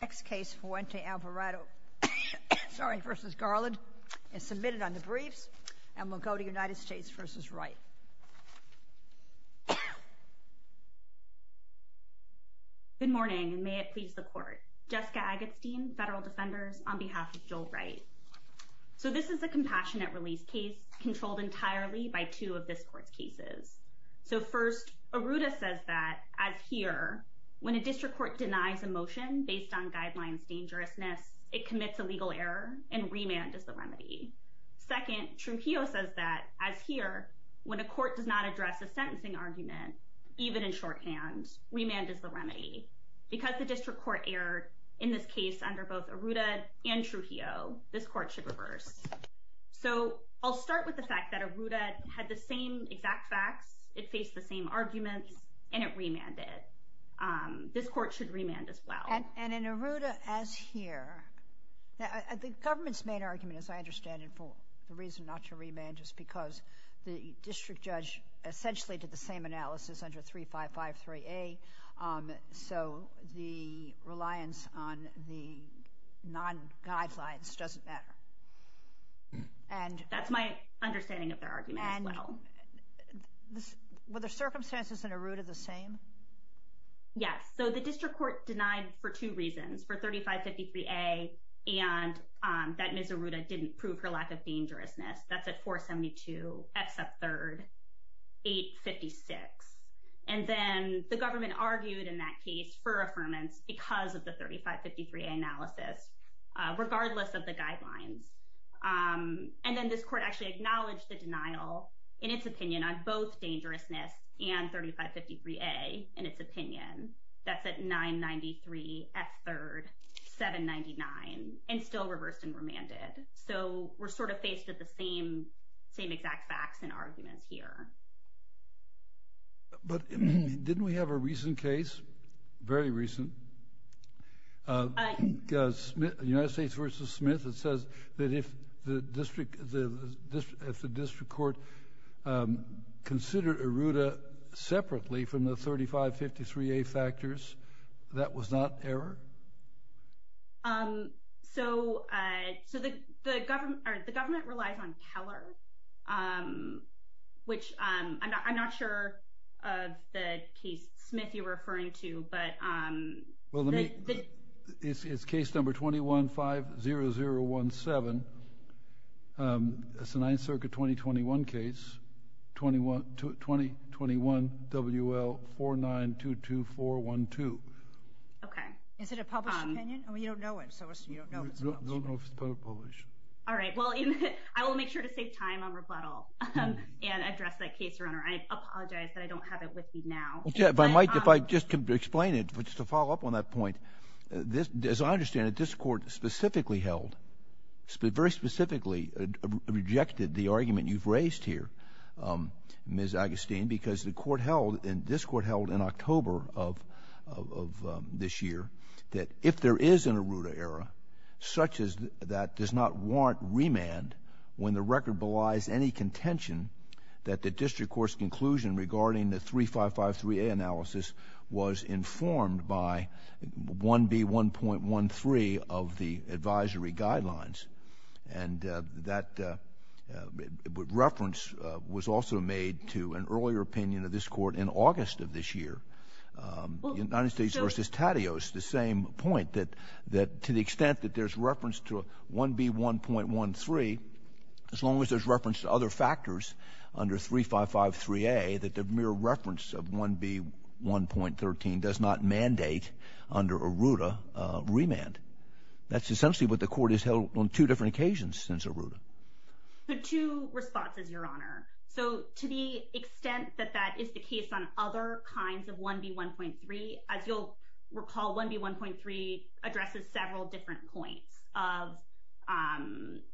Next case Fuente-Alvarado v. Garland is submitted on the briefs and we'll go to United States v. Wright Good morning and may it please the court. Jessica Agatstein, Federal Defenders, on behalf of Joel Wright So this is a compassionate release case controlled entirely by two of this court's cases So first, Arruda says that, as here, when a district court denies a motion based on guidelines dangerousness, it commits a legal error and remand is the remedy Second, Trujillo says that, as here, when a court does not address a sentencing argument, even in shorthand, remand is the remedy Because the district court erred in this case under both Arruda and Trujillo, this court should reverse So I'll start with the fact that Arruda had the same exact facts, it faced the same arguments, and it remanded This court should remand as well And in Arruda, as here, the government's main argument, as I understand it, for the reason not to remand is because the district judge essentially did the same analysis under 3553A So the reliance on the non-guidelines doesn't matter That's my understanding of their argument as well Were the circumstances in Arruda the same? Yes. So the district court denied for two reasons, for 3553A and that Ms. Arruda didn't prove her lack of dangerousness That's at 472, except third, 856 And then the government argued in that case for affirmance because of the 3553A analysis, regardless of the guidelines And then this court actually acknowledged the denial, in its opinion, on both dangerousness and 3553A, in its opinion That's at 993, ex third, 799, and still reversed and remanded So we're sort of faced with the same exact facts and arguments here But didn't we have a recent case, very recent, United States v. Smith that says that if the district court considered Arruda separately from the 3553A factors, that was not error? So the government relies on Keller, which I'm not sure of the case Smith you're referring to It's case number 21-50017, it's a 9th Circuit 2021 case, 2021 WL4922412 Is it a published opinion? You don't know if it's published I will make sure to save time on rebuttal and address that case, Your Honor I apologize that I don't have it with me now If I could just explain it, just to follow up on that point As I understand it, this court specifically held, very specifically rejected the argument you've raised here, Ms. Agustin Because this court held in October of this year that if there is an Arruda error, such as that does not warrant remand When the record belies any contention that the district court's conclusion regarding the 3553A analysis was informed by 1B1.13 of the advisory guidelines And that reference was also made to an earlier opinion of this court in August of this year United States v. Taddeos, the same point that to the extent that there's reference to 1B1.13 As long as there's reference to other factors under 3553A, that the mere reference of 1B1.13 does not mandate under Arruda remand That's essentially what the court has held on two different occasions since Arruda There are two responses, Your Honor So to the extent that that is the case on other kinds of 1B1.3 As you'll recall, 1B1.3 addresses several different points of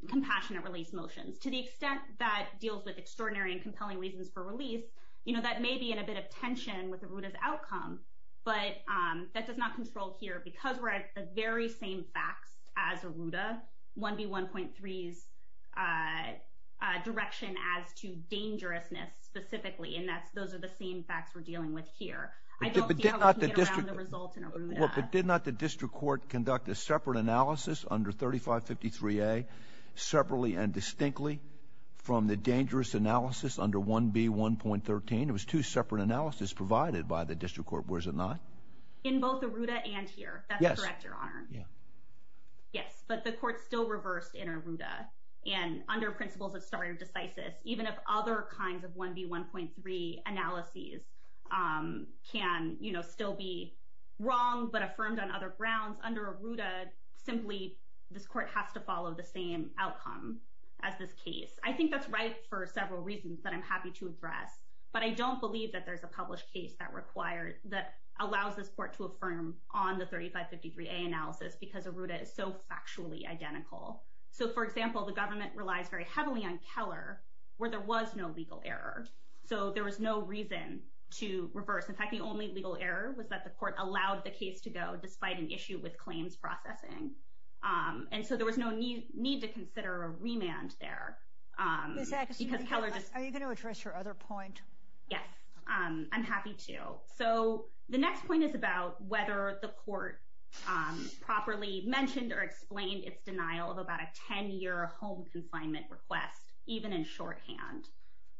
compassionate release motions To the extent that deals with extraordinary and compelling reasons for release But that does not control here because we're at the very same facts as Arruda 1B1.3's direction as to dangerousness specifically And those are the same facts we're dealing with here I don't think we can get around the results in Arruda But did not the district court conduct a separate analysis under 3553A Separately and distinctly from the dangerous analysis under 1B1.13? It was two separate analysis provided by the district court, was it not? In both Arruda and here, that's correct, Your Honor Yes, but the court still reversed in Arruda And under principles of stare decisis Even if other kinds of 1B1.3 analyses can still be wrong but affirmed on other grounds Under Arruda, simply this court has to follow the same outcome as this case I think that's right for several reasons that I'm happy to address I don't believe that there's a published case that requires That allows this court to affirm on the 3553A analysis Because Arruda is so factually identical So for example, the government relies very heavily on Keller Where there was no legal error So there was no reason to reverse In fact, the only legal error was that the court allowed the case to go Despite an issue with claims processing And so there was no need to consider a remand there Are you going to address your other point? Yes, I'm happy to So the next point is about whether the court properly mentioned or explained Its denial of about a 10-year home confinement request Even in shorthand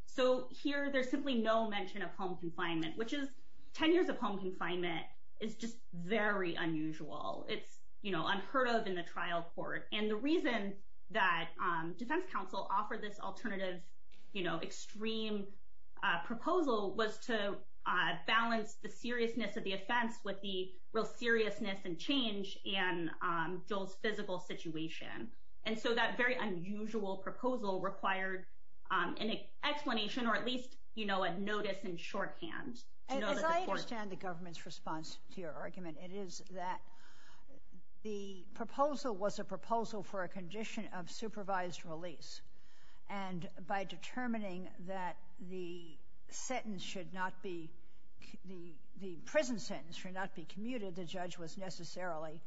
So here, there's simply no mention of home confinement Which is, 10 years of home confinement is just very unusual It's unheard of in the trial court And the reason that defense counsel offered this alternative You know, extreme proposal Was to balance the seriousness of the offense With the real seriousness and change in Joel's physical situation And so that very unusual proposal required an explanation Or at least, you know, a notice in shorthand As I understand the government's response to your argument It is that the proposal was a proposal for a condition of supervised release And by determining that the sentence should not be The prison sentence should not be commuted The judge was necessarily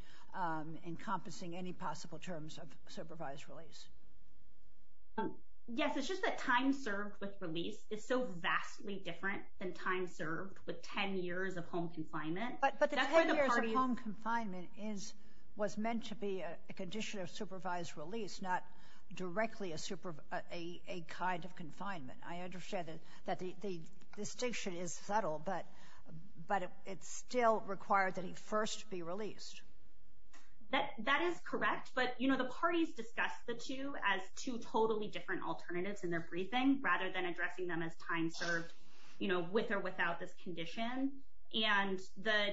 encompassing any possible terms of supervised release Yes, it's just that time served with release Is so vastly different than time served with 10 years of home confinement But the 10 years of home confinement is Was meant to be a condition of supervised release Not directly a kind of confinement I understand that the distinction is subtle But it still required that he first be released That is correct But, you know, the parties discussed the two As two totally different alternatives in their briefing Rather than addressing them as time served You know, with or without this condition And the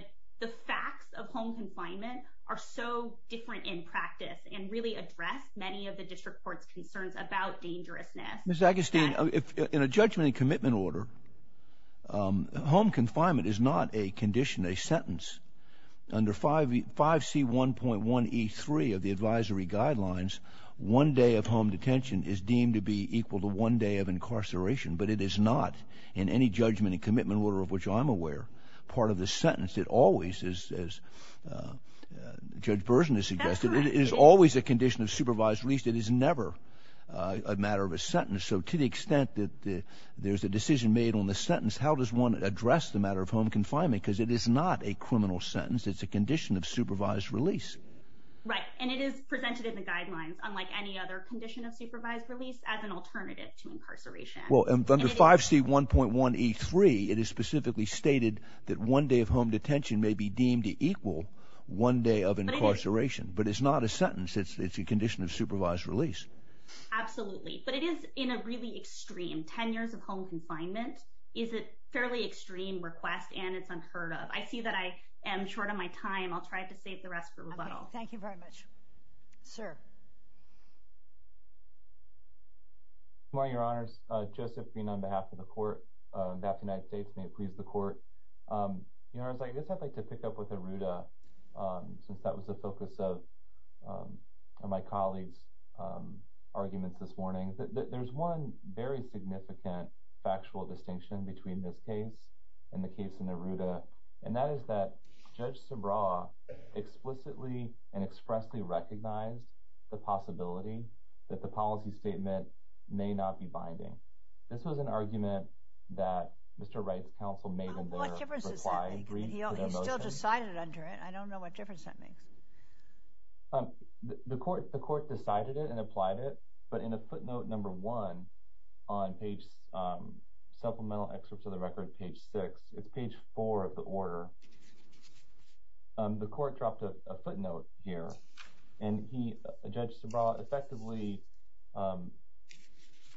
facts of home confinement Are so different in practice And really address many of the district court's concerns about dangerousness Ms. Agustin, in a judgment and commitment order Home confinement is not a condition, a sentence Under 5C1.1E3 of the advisory guidelines One day of home detention is deemed to be Equal to one day of incarceration But it is not, in any judgment and commitment order Of which I'm aware, part of the sentence It always, as Judge Burson has suggested It is always a condition of supervised release It is never a matter of a sentence So to the extent that there's a decision made on the sentence How does one address the matter of home confinement? Because it is not a criminal sentence It's a condition of supervised release Right, and it is presented in the guidelines Unlike any other condition of supervised release As an alternative to incarceration Well, under 5C1.1E3 It is specifically stated that one day of home detention May be deemed equal to one day of incarceration So it's not a sentence It's a condition of supervised release Absolutely, but it is in a really extreme Ten years of home confinement Is a fairly extreme request And it's unheard of I see that I am short on my time I'll try to save the rest for rebuttal Okay, thank you very much Sir Good morning, Your Honors Joseph Green, on behalf of the Court And that of the United States May it please the Court Your Honors, I guess I'd like to pick up with Aruda And my colleague's arguments this morning That there's one very significant Factual distinction between this case And the case of Aruda And that is that Judge Subraw explicitly And expressly recognized The possibility That the policy statement May not be binding This was an argument That Mr. Wright's counsel made in there What difference does that make? He still decided under it I don't know what difference that makes The Court decided it And applied it But in a footnote number one On page Supplemental excerpt to the record Page six It's page four of the order The Court dropped a footnote here And Judge Subraw effectively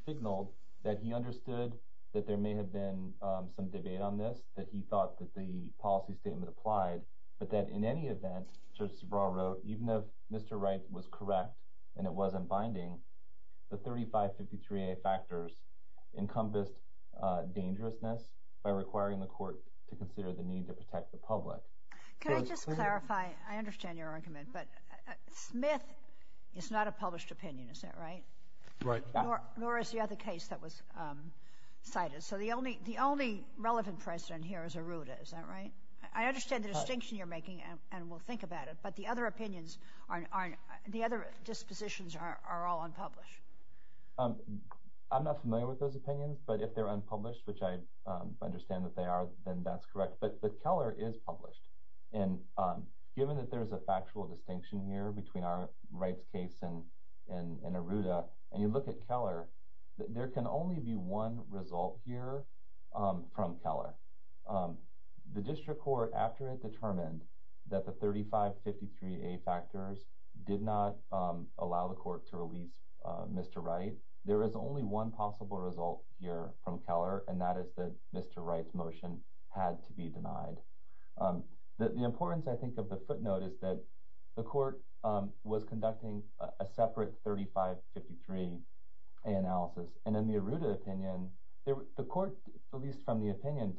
Signaled That he understood That there may have been Some debate on this That he thought that the policy statement applied But that in any event If Mr. Wright was correct And it wasn't binding The 3553A factors Encompassed Dangerousness By requiring the Court To consider the need to protect the public Can I just clarify I understand your argument But Smith is not a published opinion Is that right? Right Nor is the other case that was cited So the only relevant precedent here Is Aruda, is that right? I understand the distinction you're making And we'll think about it But the other opinions The other dispositions Are all unpublished I'm not familiar with those opinions But if they're unpublished Which I understand that they are Then that's correct But Keller is published And given that there's a factual distinction here Between our Wright's case And Aruda And you look at Keller There can only be one result here If the Court After it determined That the 3553A factors Did not allow the Court To release Mr. Wright There is only one possible result Here from Keller And that is that Mr. Wright's motion Had to be denied The importance I think of the footnote Is that the Court Was conducting A separate 3553A analysis And in the Aruda opinion The Court Was making a decision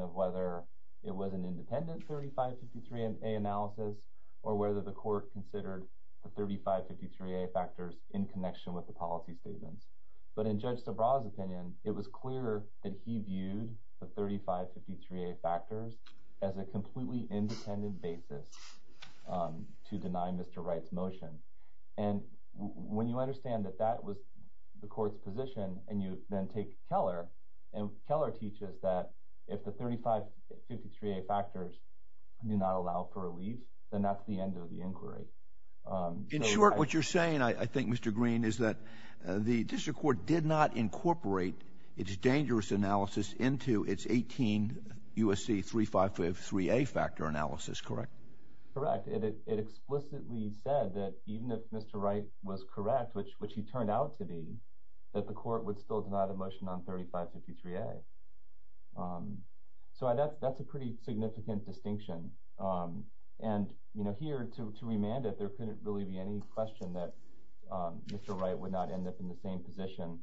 Of whether it was an independent 3553A analysis Or whether the Court Considered the 3553A factors In connection with the policy statements But in Judge Sabra's opinion It was clear that he viewed The 3553A factors As a completely independent basis To deny Mr. Wright's motion And when you understand That that was the Court's position And you then take Keller And Keller teaches that If the 3553A factors Do not allow for a release Then that's the end of the inquiry In short, what you're saying I think Mr. Green Is that the District Court Did not incorporate Its dangerous analysis Into its 18 USC 3553A Factor analysis, correct? Correct, it explicitly said That even if Mr. Wright Was correct, which he turned out to be That the Court would still Include the 3553A So that's a pretty Significant distinction And, you know, here To remand it, there couldn't Really be any question That Mr. Wright would not End up in the same position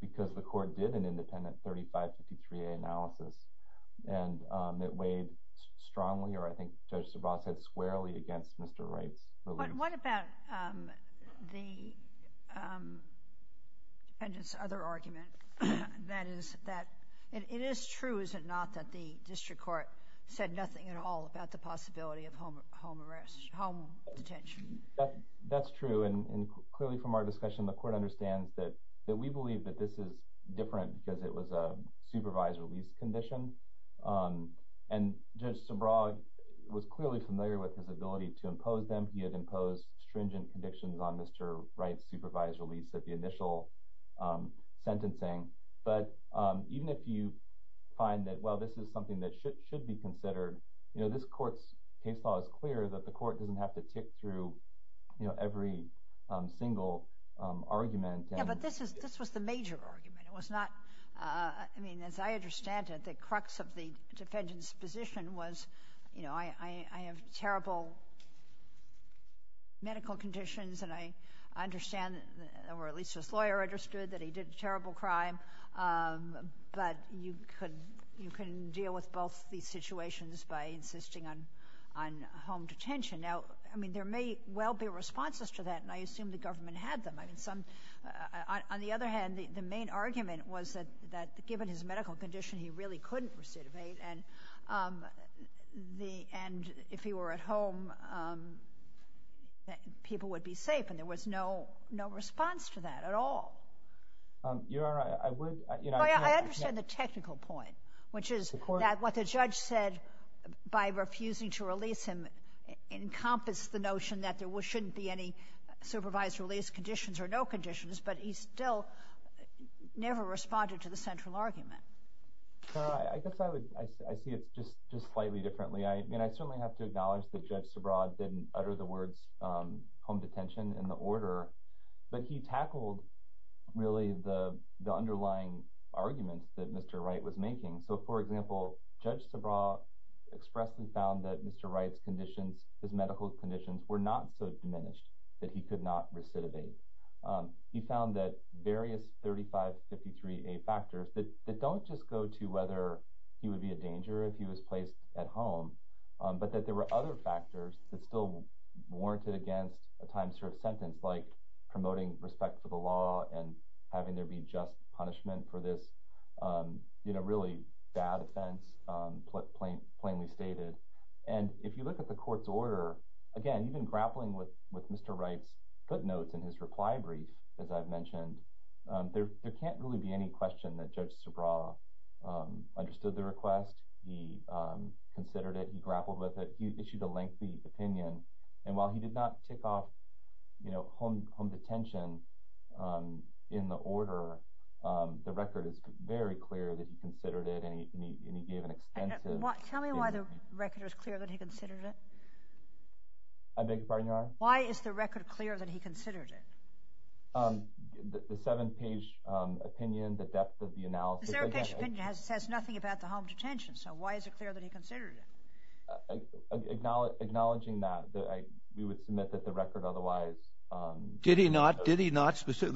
Because the Court did An independent 3553A analysis And it weighed strongly Or I think Judge Sabra said Squarely against Mr. Wright's What about the Defendant's other argument That is that It is true, is it not That the District Court Said nothing at all About the possibility Of home arrest, home detention That's true And clearly from our discussion The Court understands That we believe that this is Different because it was A supervised release condition And Judge Sabra was clearly Familiar with his ability To deal with the initial Sentencing But even if you find that Well, this is something That should be considered You know, this Court's case Law is clear that the Court Doesn't have to tick through Every single argument Yeah, but this was the major Argument, it was not I mean, as I understand it The crux of the defendant's Position was, you know, I have terrible medical Conditions, at least his Lawyer understood that he Did a terrible crime But you can deal with both These situations by insisting On home detention Now, I mean, there may well Be responses to that And I assume the government Had them, I mean, on the Other hand, the main argument Was that given his medical Condition he really couldn't Recidivate and if he were At home, people would be Refusing that at all Your Honor, I would I understand the technical Point, which is that what The judge said by refusing To release him encompassed The notion that there Shouldn't be any supervised Release conditions or no Conditions, but he still Never responded to the Central argument Your Honor, I guess I would I see it just slightly Differently, I mean, I Don't see really the Underlying argument that Mr. Wright was making, so For example, Judge Sabraw expressly found that Mr. Wright's medical Conditions were not so Diminished that he could Not recidivate, he found That various 3553A factors That don't just go to whether He would be a danger if he Was placed at home, but There were other factors That still warranted against Judge Sabraw and having There be just punishment for This really bad offense Plainly stated, and if You look at the court's Order, again, even grappling With Mr. Wright's footnotes And his reply brief, as I've Mentioned, there can't Really be any question that Judge Sabraw understood the Request, he considered it, he Grappled with it, he issued A lengthy opinion, and while He did not tick off home Detention in the order, the Record is very clear that He considered it, and he Gave an extensive... Tell me why the record is Clear that he considered it? I beg your pardon, Your Honor? Why is the record clear that He considered it? The seven-page opinion, the Depth of the analysis... The seven-page opinion says Nothing about the home Detention, so why is it Clear that he considered it? Well, the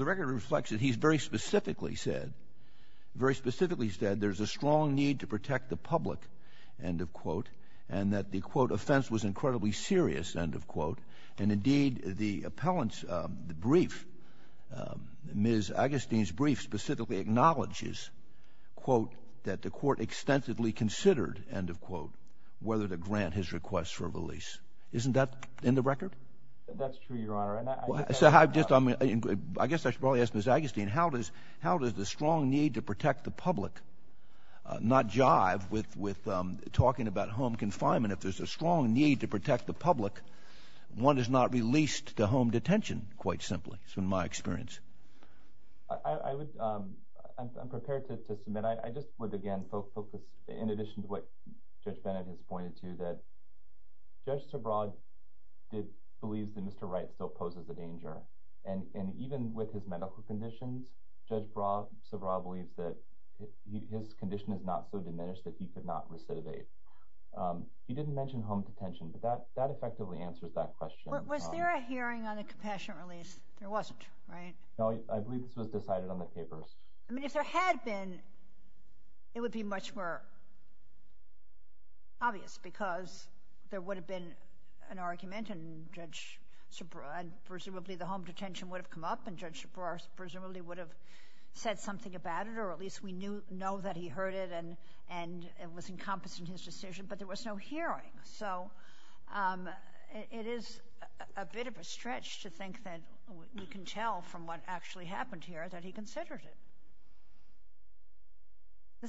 record reflects that He's very specifically said, Very specifically said there's A strong need to protect the Public, end of quote, and that The, quote, offense was Incredibly serious, end of Quote, and indeed the Appellant's brief, Ms. Agustin's brief specifically Acknowledges, quote, that the Court extensively considered, End of quote, whether to grant His request for a release. Isn't that in the record? And I ask Ms. Agustin, how Does the strong need to protect The public not jive with Talking about home confinement? If there's a strong need to Protect the public, one is not Released to home detention, quite Simply, in my experience. I would... I'm prepared to submit. I just would, again, focus, in Addition to what Judge Bennett Has pointed to, that Judge Tabrod believes that Mr. Wright Still poses a danger, and even Under his conditions, Judge Tabrod believes that his Condition is not so diminished That he could not recidivate. He didn't mention home Detention, but that effectively Answers that question. Was there a hearing on a Compassionate release? There wasn't, right? No, I believe this was decided On the papers. I mean, if there had been, it Would be much more obvious, Because there would have been A hearing. He presumably would have said Something about it, or at least We know that he heard it, and It was encompassed in his Decision, but there was no Hearing, so it is a bit of a Stretch to think that we can Tell from what actually happened Here that he considered it.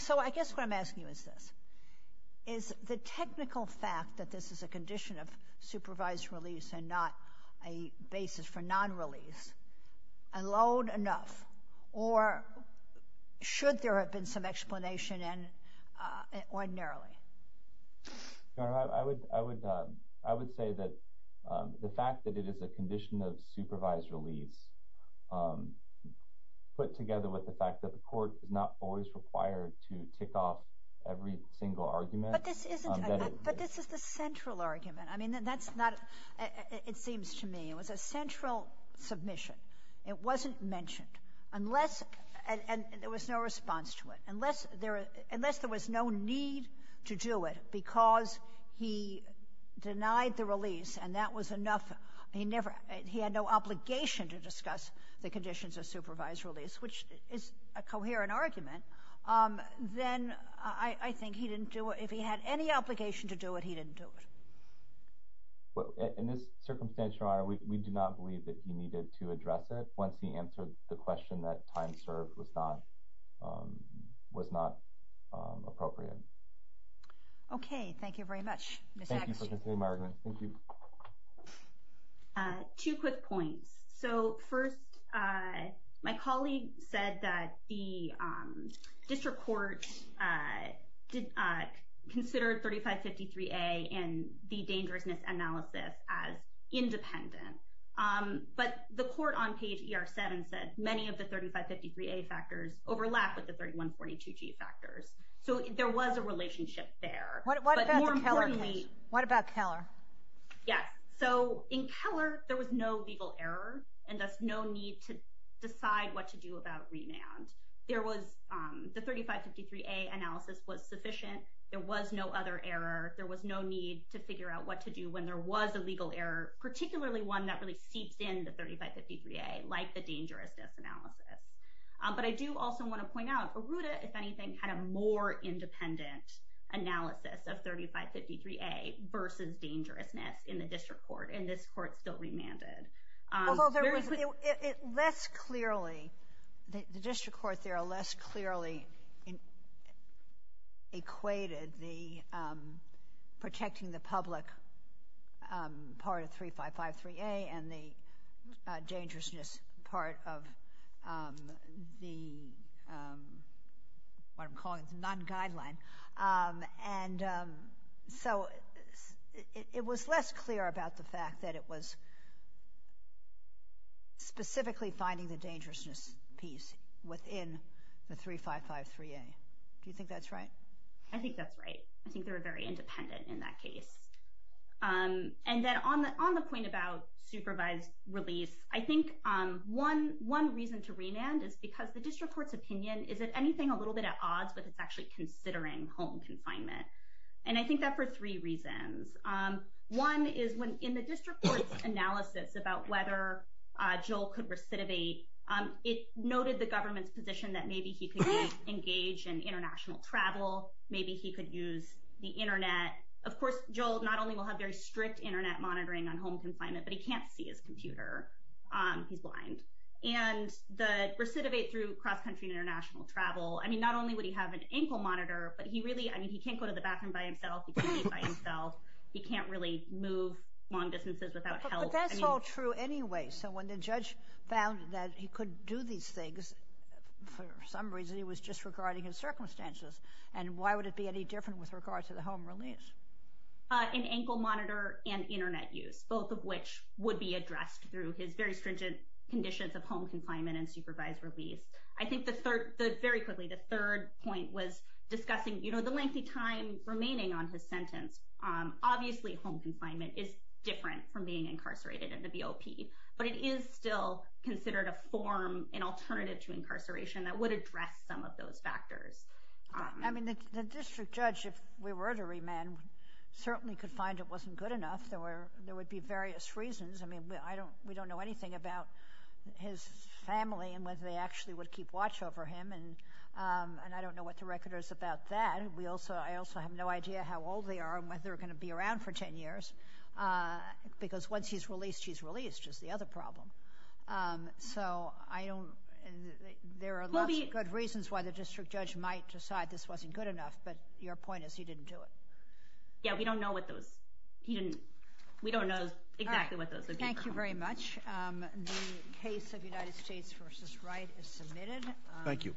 So I guess what I'm asking you Is this. Is the technical fact that this Is a condition of supervised Release and not a basis for Explanation alone enough? Or should there have been some Explanation ordinarily? I would say that the fact that It is a condition of supervised Release put together with the Fact that the court is not Always required to tick off Every single argument. But this is the central Argument. I mean, that's not, it seems To me, it was a central Submission. It wasn't mentioned. Unless, and there was no Response to it, unless there Was no need to do it because He denied the release and that Was enough, he had no Obligation to discuss the Conditions of supervised release, Which is a coherent argument, Then I think he didn't do it. If he had any obligation to do It, he didn't do it. In this circumstance, your Honor, we do not believe that There was a need to address it Once he answered the question That time served was not Appropriate. Okay. Thank you very much. Thank you for considering my Argument. Two quick points. So first, my colleague said That the district court Considered 3553A and the Dangerousness analysis as Independent. But the court on page ER7 Said many of the 3553A factors Overlap with the 3142G factors. So there was a relationship There. What about Keller? Yes. So in Keller, there was no Legal error and thus no need To decide what to do about Remand. The 3553A analysis was Sufficient. There was no other error. There was no need to figure Out what to do when there was A legal error, particularly one That really seeps in the 3553A, like the Dangerousness analysis. But I do also want to point Out Arruda, if anything, had A more independent analysis Of 3553A versus Dangerousness in the district Court, and this court still Remanded. Although there was less Clearly, the district court There less clearly equated The protecting the public Part of 3553A and the Dangerousness part of the What I'm calling the Non-guideline. And so it was less Clear about the fact that it Was specifically finding the Dangerousness piece within the 3553A. Do you think that's right? I think that's right. I think they were very Independent in that case. And then on the point about Supervised release, I think One reason to remand is Because the district court's Opinion is, if anything, a Little bit at odds with It's actually considering home Confinement. And I think that for three Reasons. One is, in the district Court's analysis about whether Joel could recidivate, it Noted the government's Opinion that maybe he could Engage in international travel. Maybe he could use the Internet. Of course, Joel not only will Have very strict internet Monitoring on home confinement, But he can't see his computer. He's blind. And the recidivate through Cross-country and international Travel, not only would he have An ankle monitor, but he Can't go to the bathroom by Himself. He can't really move long Distances. And for some reason he was Circumstances. And why would it be any Different with regard to the Home release? An ankle monitor and internet Use, both of which would be Addressed through his very Stringent conditions of home Confinement and supervised Release. I think the third point was Discussing the lengthy time Remaining on his sentence. Obviously home confinement is Different from being Incarcerated in the BOP, but it Is still considered a form, an Alternative to incarceration That would address some of Those factors. I mean, the district judge, if We were to remand, certainly Could find it wasn't good Enough. There would be various reasons. I mean, we don't know anything About his family and whether They actually would keep watch Over him. And I don't know what the Problem is. Because once he's released, She's released is the other Problem. So I don't know. There are lots of good reasons Why the district judge might Decide this wasn't good enough, But your point is he didn't do It. Yeah, we don't know exactly What those would be. Thank you very much. The case of united states Versus right is submitted. Thank you.